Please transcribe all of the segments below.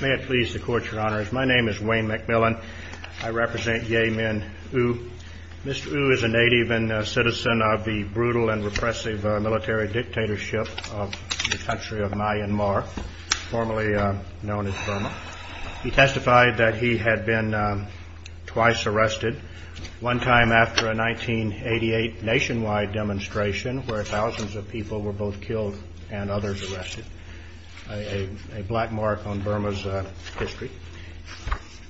May it please the Court, Your Honors. My name is Wayne McMillan. I represent Ye Min Oo. Mr. Oo is a native and citizen of the brutal and repressive military dictatorship of the country of Myanmar, formerly known as Burma. He testified that he had been twice arrested, one time after a 1988 nationwide demonstration where thousands of people were both killed and others arrested. A black mark on Burma's history.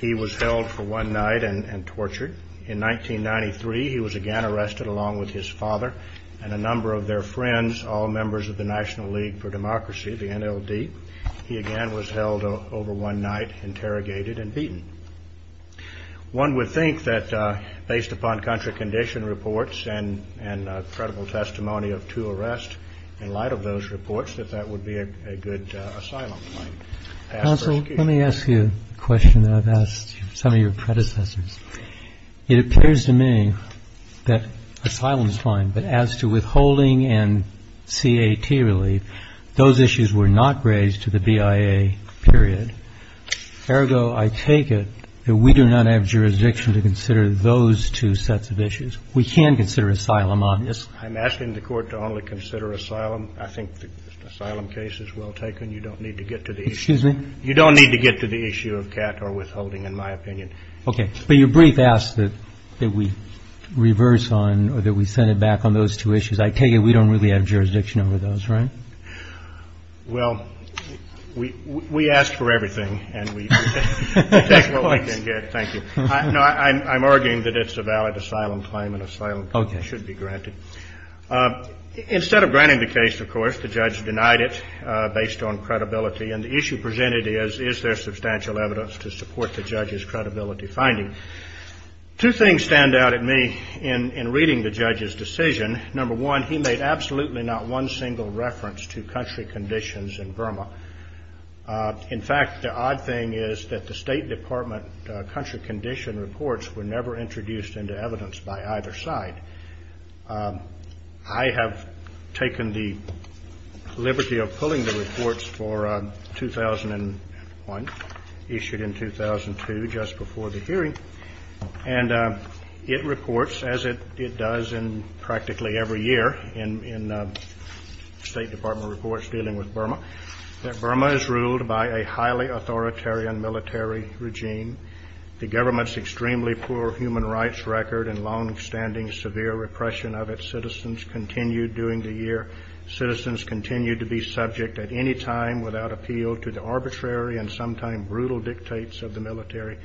He was held for one night and tortured. In 1993 he was again arrested along with his father and a number of their friends, all members of the National League for Democracy, the NLD. He again was held over one night, interrogated and beaten. One would think that based upon contra-condition reports and credible testimony of two arrests, in light of those reports, that that would be a good asylum claim. Counsel, let me ask you a question that I've asked some of your predecessors. It appears to me that asylum is fine, but as to withholding and CAT relief, those issues were not raised to the BIA period. Ergo, I take it that we do not have jurisdiction to consider those two sets of issues. We can consider asylum, obviously. I'm asking the Court to only consider asylum. I think the asylum case is well taken. You don't need to get to the issue of CAT or withholding, in my opinion. Okay. But your brief asks that we reverse on or that we send it back on those two issues. I take it we don't really have jurisdiction over those, right? Well, we ask for everything, and we take what we can get. Thank you. No, I'm arguing that it's a valid asylum claim and asylum should be granted. Instead of granting the case, of course, the judge denied it based on credibility. And the issue presented is, is there substantial evidence to support the judge's credibility finding? Two things stand out in me in reading the judge's decision. Number one, he made absolutely not one single reference to country conditions in Burma. In fact, the odd thing is that the State Department country condition reports were never introduced into evidence by either side. I have taken the liberty of pulling the reports for 2001, issued in 2002, just before the hearing. And it reports, as it does practically every year in State Department reports dealing with Burma, that Burma is ruled by a highly authoritarian military regime. The government's extremely poor human rights record and longstanding severe repression of its citizens continued during the year. Citizens continue to be subject at any time without appeal to the arbitrary and sometimes brutal dictates of the military.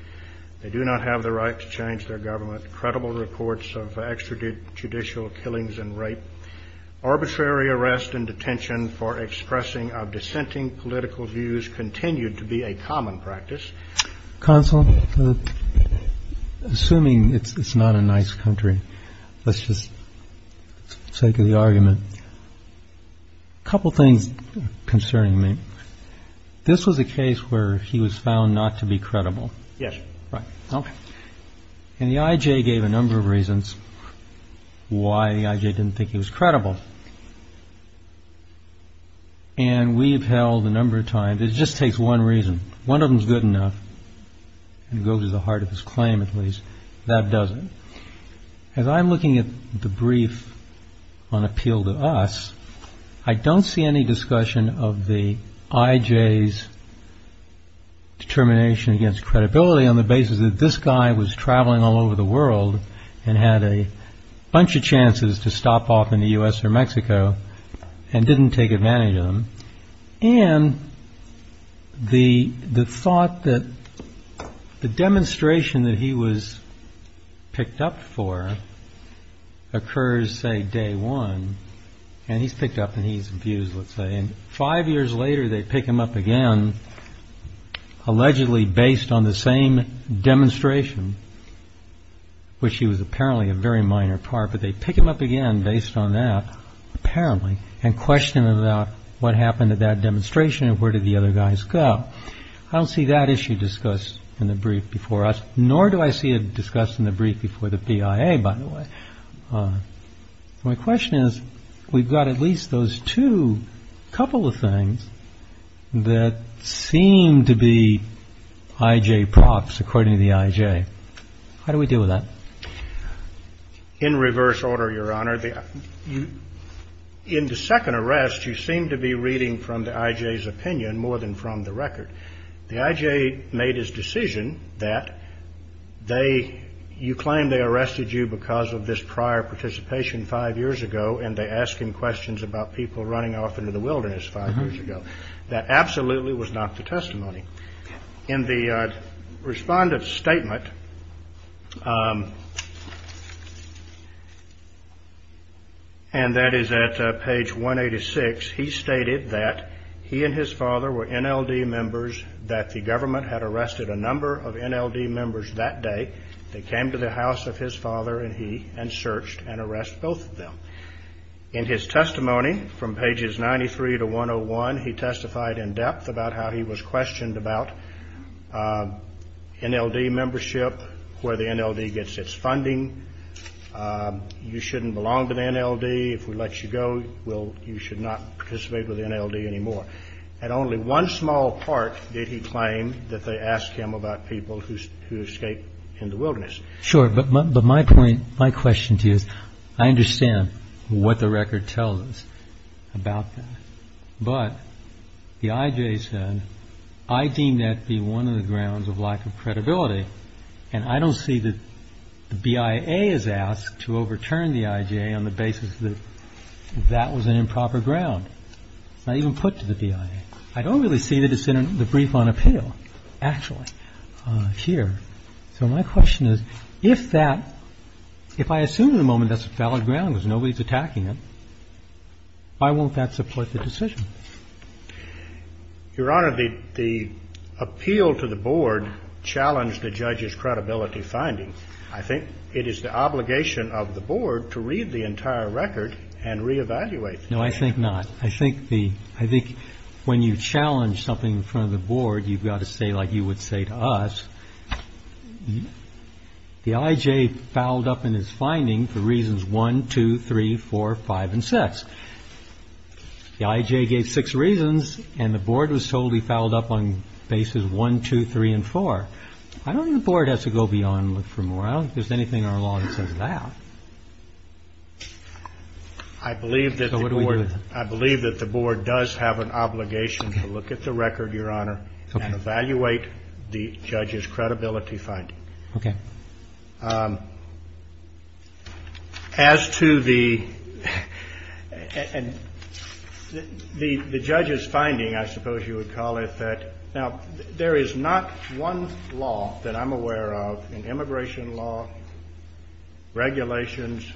They do not have the right to change their government. Credible reports of extrajudicial killings and rape. Arbitrary arrest and detention for expressing of dissenting political views continued to be a common practice. Counsel, assuming it's not a nice country, let's just take the argument. A couple of things concerning me. This was a case where he was found not to be credible. Yes. Okay. And the IJ gave a number of reasons why the IJ didn't think he was credible. And we've held a number of times. It just takes one reason. One of them is good enough and goes to the heart of his claim, at least. That does it. As I'm looking at the brief on appeal to us, I don't see any discussion of the IJ's determination against credibility on the basis that this guy was traveling all over the world and had a bunch of chances to stop off in the U.S. or Mexico and didn't take advantage of them. And the thought that the demonstration that he was picked up for occurs, say, day one. And he's picked up and he's abused, let's say. And five years later, they pick him up again, allegedly based on the same demonstration, which he was apparently a very minor part. But they pick him up again based on that, apparently, and question about what happened at that demonstration and where did the other guys go? I don't see that issue discussed in the brief before us, nor do I see it discussed in the brief before the PIA, by the way. My question is, we've got at least those two couple of things that seem to be IJ props, according to the IJ. How do we deal with that? In reverse order, Your Honor, in the second arrest, you seem to be reading from the IJ's opinion more than from the record. The IJ made his decision that you claim they arrested you because of this prior participation five years ago, and they ask him questions about people running off into the wilderness five years ago. That absolutely was not the testimony. In the respondent's statement, and that is at page 186, he stated that he and his father were NLD members, that the government had arrested a number of NLD members that day. They came to the house of his father and he, and searched and arrested both of them. In his testimony, from pages 93 to 101, he testified in depth about how he was questioned about NLD membership, where the NLD gets its funding, you shouldn't belong to the NLD, if we let you go, you should not participate with the NLD anymore. At only one small part did he claim that they asked him about people who escaped in the wilderness. Sure, but my point, my question to you is, I understand what the record tells us about that. But the IJ said, I deem that to be one of the grounds of lack of credibility, and I don't see that the BIA is asked to overturn the IJ on the basis that that was an improper ground. It's not even put to the BIA. I don't really see the brief on appeal, actually, here. So my question is, if that, if I assume at the moment that's a valid ground because nobody's attacking it, why won't that support the decision? Your Honor, the appeal to the board challenged the judge's credibility finding. I think it is the obligation of the board to read the entire record and reevaluate. No, I think not. I think the, I think when you challenge something in front of the board, you've got to say like you would say to us, the IJ fouled up in his finding for reasons 1, 2, 3, 4, 5, and 6. The IJ gave six reasons, and the board was told he fouled up on bases 1, 2, 3, and 4. I don't think the board has to go beyond and look for more. I don't think there's anything in our law that says that. I believe that the board does have an obligation to look at the record, Your Honor, and evaluate the judge's credibility finding. Okay. As to the, and the judge's finding, I suppose you would call it that, now, there is not one law that I'm aware of, immigration law, regulations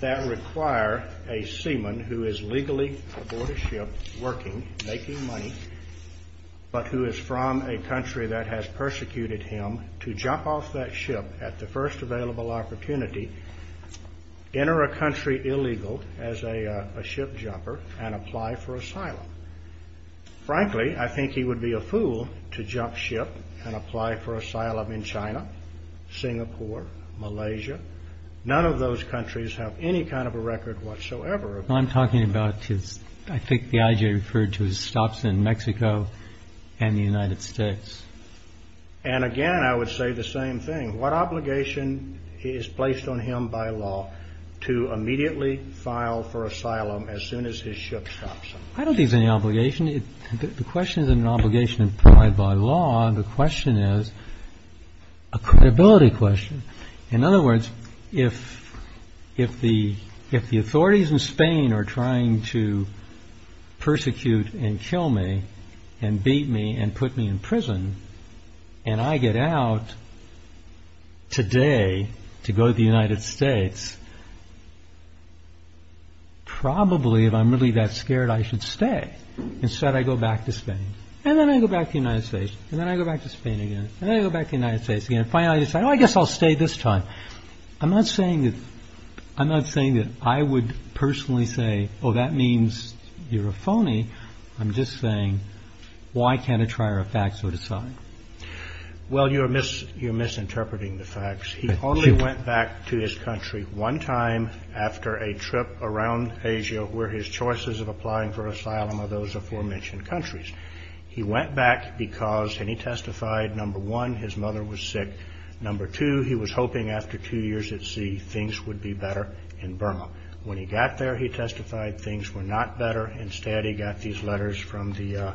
that require a seaman who is legally aboard a ship working, making money, but who is from a country that has persecuted him to jump off that ship at the first available opportunity, enter a country illegal as a ship jumper, and apply for asylum. Frankly, I think he would be a fool to jump ship and apply for asylum in China, Singapore, Malaysia. None of those countries have any kind of a record whatsoever. What I'm talking about is, I think the IJ referred to his stops in Mexico and the United States. And again, I would say the same thing. What obligation is placed on him by law to immediately file for asylum as soon as his ship stops him? I don't think it's any obligation. The question isn't an obligation implied by law. The question is a credibility question. In other words, if the authorities in Spain are trying to persecute and kill me and beat me and put me in prison, and I get out today to go to the United States, probably, if I'm really that scared, I should stay. Instead, I go back to Spain. And then I go back to the United States. And then I go back to Spain again. And then I go back to the United States again. Finally, I decide, oh, I guess I'll stay this time. I'm not saying that I would personally say, oh, that means you're a phony. I'm just saying, why can't a trier of facts so decide? Well, you're misinterpreting the facts. He only went back to his country one time after a trip around Asia where his choices of applying for asylum are those aforementioned countries. He went back because, and he testified, number one, his mother was sick. Number two, he was hoping after two years at sea, things would be better in Burma. When he got there, he testified, things were not better. Instead, he got these letters from the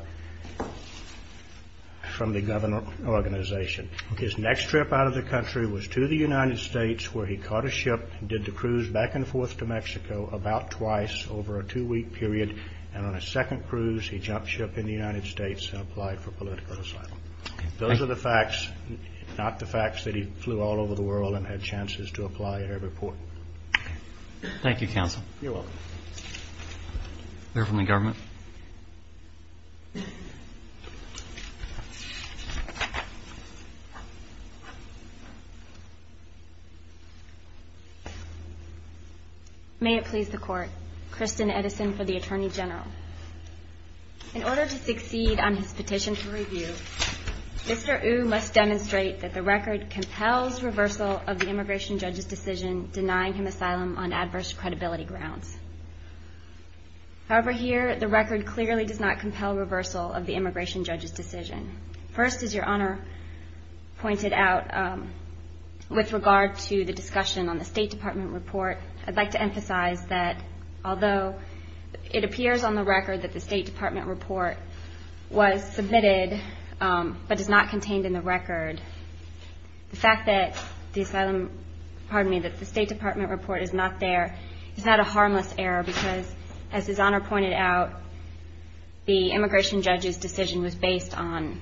government organization. His next trip out of the country was to the United States where he caught a ship and did the cruise back and forth to Mexico about twice over a two-week period. And on a second cruise, he jumped ship in the United States and applied for political asylum. Those are the facts, not the facts that he flew all over the world and had chances to apply at every port. Thank you, counsel. You're welcome. A letter from the government. May it please the Court. Kristen Edison for the Attorney General. In order to succeed on his petition for review, Mr. Ou must demonstrate that the record compels reversal of the immigration judge's decision denying him asylum on adverse credibility grounds. However, here, the record clearly does not compel reversal of the immigration judge's decision. First, as Your Honor pointed out, with regard to the discussion on the State Department report, I'd like to emphasize that although it appears on the record that the State Department report was submitted but is not contained in the record, the fact that the State Department report is not there is not a harmless error because, as His Honor pointed out, the immigration judge's decision was based on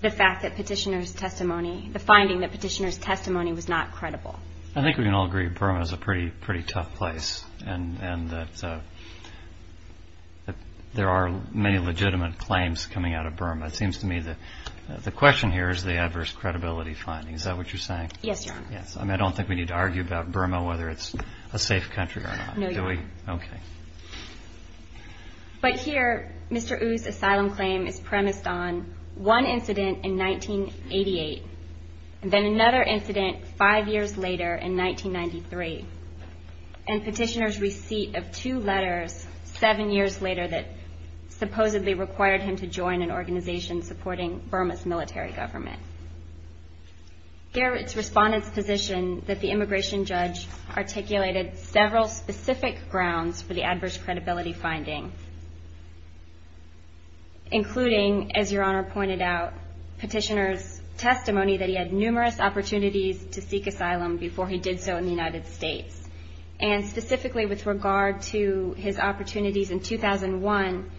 the fact that petitioner's testimony, the finding that petitioner's testimony was not credible. I think we can all agree that Burma is a pretty tough place and that there are many legitimate claims coming out of Burma. It seems to me that the question here is the adverse credibility finding. Is that what you're saying? Yes, Your Honor. Yes. I mean, I don't think we need to argue about Burma, whether it's a safe country or not. No, Your Honor. Okay. But here, Mr. Ou's asylum claim is premised on one incident in 1988 and then another incident five years later in 1993 and petitioner's receipt of two letters seven years later that supposedly required him to join an organization supporting Burma's military government. Here, it's Respondent's position that the immigration judge articulated several specific grounds for the adverse credibility finding, including, as Your Honor pointed out, petitioner's testimony that he had numerous opportunities to seek asylum before he did so in the United States. And specifically with regard to his opportunities in 2001,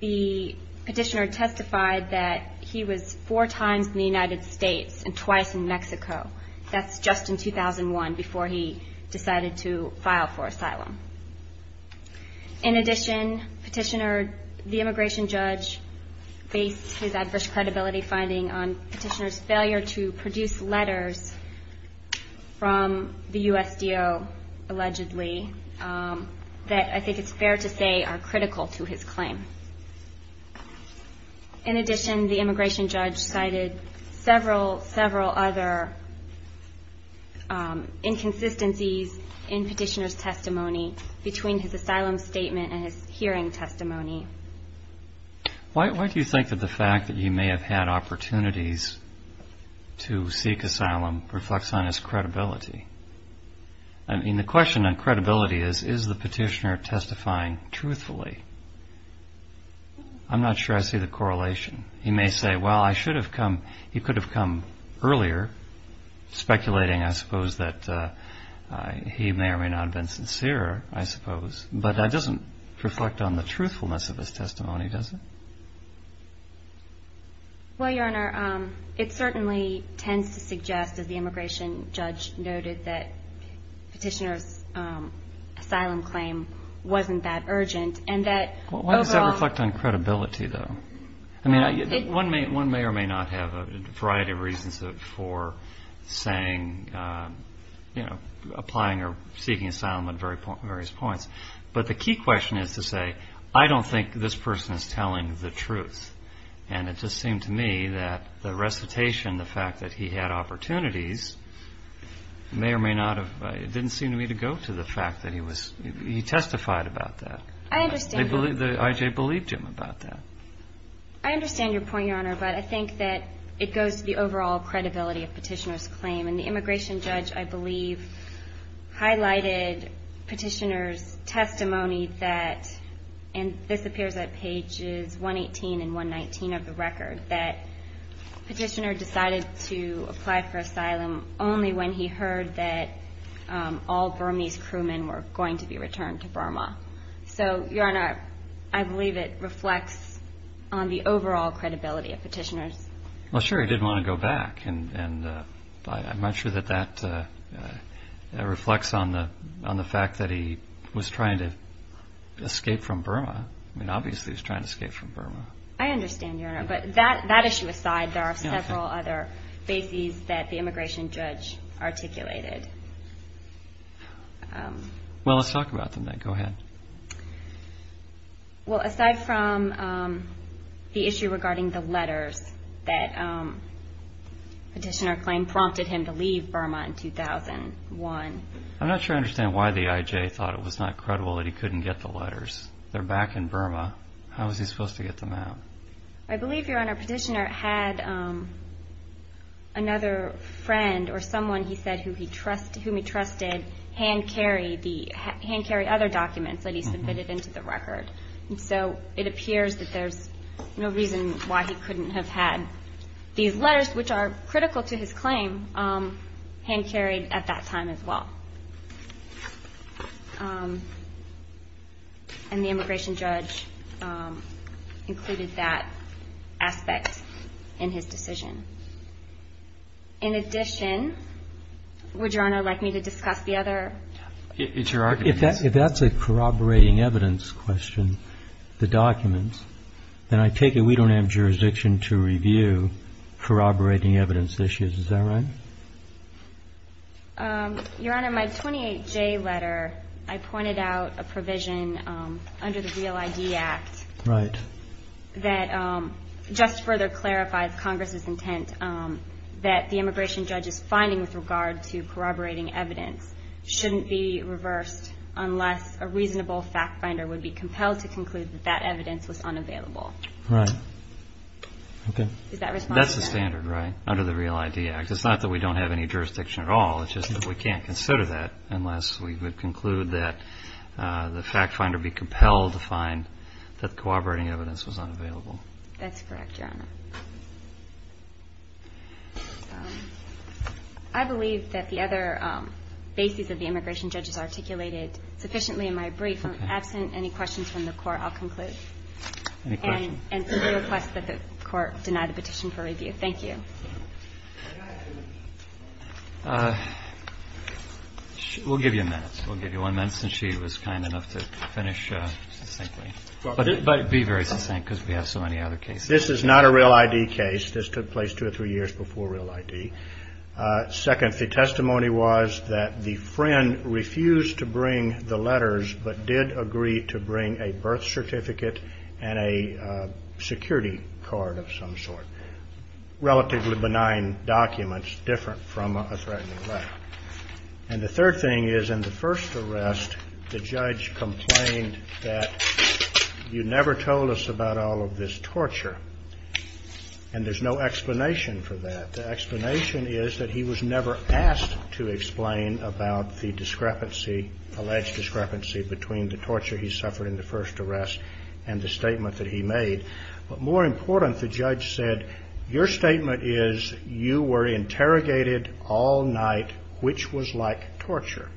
the petitioner testified that he was four times in the United States and twice in Mexico. That's just in 2001 before he decided to file for asylum. In addition, the immigration judge based his adverse credibility finding on petitioner's failure to produce letters from the USDO, allegedly, that I think it's fair to say are critical to his claim. In addition, the immigration judge cited several, several other inconsistencies in petitioner's testimony between his asylum statement and his hearing testimony. Why do you think that the fact that you may have had opportunities to seek asylum reflects on his credibility? I mean, the question on credibility is, is the petitioner testifying truthfully? I'm not sure I see the correlation. He may say, well, I should have come, he could have come earlier, speculating, I suppose, that he may or may not have been sincere, I suppose. But that doesn't reflect on the truthfulness of his testimony, does it? Well, Your Honor, it certainly tends to suggest, as the immigration judge noted, that petitioner's asylum claim wasn't that urgent, and that overall. Why does that reflect on credibility, though? I mean, one may or may not have a variety of reasons for saying, you know, applying or seeking asylum at various points. But the key question is to say, I don't think this person is telling the truth. And it just seemed to me that the recitation, the fact that he had opportunities, may or may not have, it didn't seem to me to go to the fact that he was, he testified about that. I understand. The IJ believed him about that. I understand your point, Your Honor, but I think that it goes to the overall credibility of petitioner's claim. And the immigration judge, I believe, highlighted petitioner's testimony that, and this appears at pages 118 and 119 of the record, that petitioner decided to apply for asylum only when he heard that all Burmese crewmen were going to be returned to Burma. So, Your Honor, I believe it reflects on the overall credibility of petitioner's. Well, sure, he did want to go back. And I'm not sure that that reflects on the fact that he was trying to escape from Burma. I mean, obviously he was trying to escape from Burma. I understand, Your Honor. But that issue aside, there are several other bases that the immigration judge articulated. Well, let's talk about them then. Go ahead. Well, aside from the issue regarding the letters that petitioner claimed prompted him to leave Burma in 2001. I'm not sure I understand why the IJ thought it was not credible that he couldn't get the letters. They're back in Burma. How was he supposed to get them out? I believe, Your Honor, petitioner had another friend or someone, he said, whom he trusted hand-carry other documents that he submitted into the record. And so it appears that there's no reason why he couldn't have had these letters, which are critical to his claim, hand-carried at that time as well. And the immigration judge included that aspect in his decision. In addition, would Your Honor like me to discuss the other? It's your argument. If that's a corroborating evidence question, the documents, then I take it we don't have jurisdiction to review corroborating evidence issues. Is that right? Your Honor, my 28J letter, I pointed out a provision under the Real ID Act. Right. That just further clarifies Congress's intent that the immigration judge's finding with regard to corroborating evidence shouldn't be reversed unless a reasonable fact finder would be compelled to conclude that that evidence was unavailable. Right. Okay. Does that respond to that? That's the standard, right, under the Real ID Act. It's not that we don't have any jurisdiction at all. It's just that we can't consider that unless we would conclude that the fact finder would be compelled to find that corroborating evidence was unavailable. That's correct, Your Honor. I believe that the other bases of the immigration judge's articulated sufficiently in my brief. Absent any questions from the Court, I'll conclude. Any questions? And simply request that the Court deny the petition for review. Thank you. We'll give you a minute. We'll give you one minute since she was kind enough to finish succinctly. But be very succinct because we have so many other cases. This is not a Real ID case. This took place two or three years before Real ID. Second, the testimony was that the friend refused to bring the letters but did agree to bring a birth certificate and a security card of some sort. Relatively benign documents different from a threatening letter. And the third thing is in the first arrest, the judge complained that you never told us about all of this torture and there's no explanation for that. The explanation is that he was never asked to explain about the discrepancy, alleged discrepancy, between the torture he suffered in the first arrest and the statement that he made. But more important, the judge said, your statement is you were interrogated all night, which was like torture.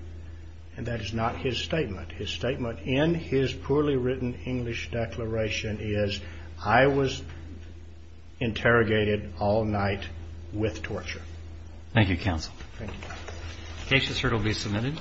And that is not his statement. His statement in his poorly written English declaration is, I was interrogated all night with torture. Thank you, Counsel. Thank you. The case is here to be submitted.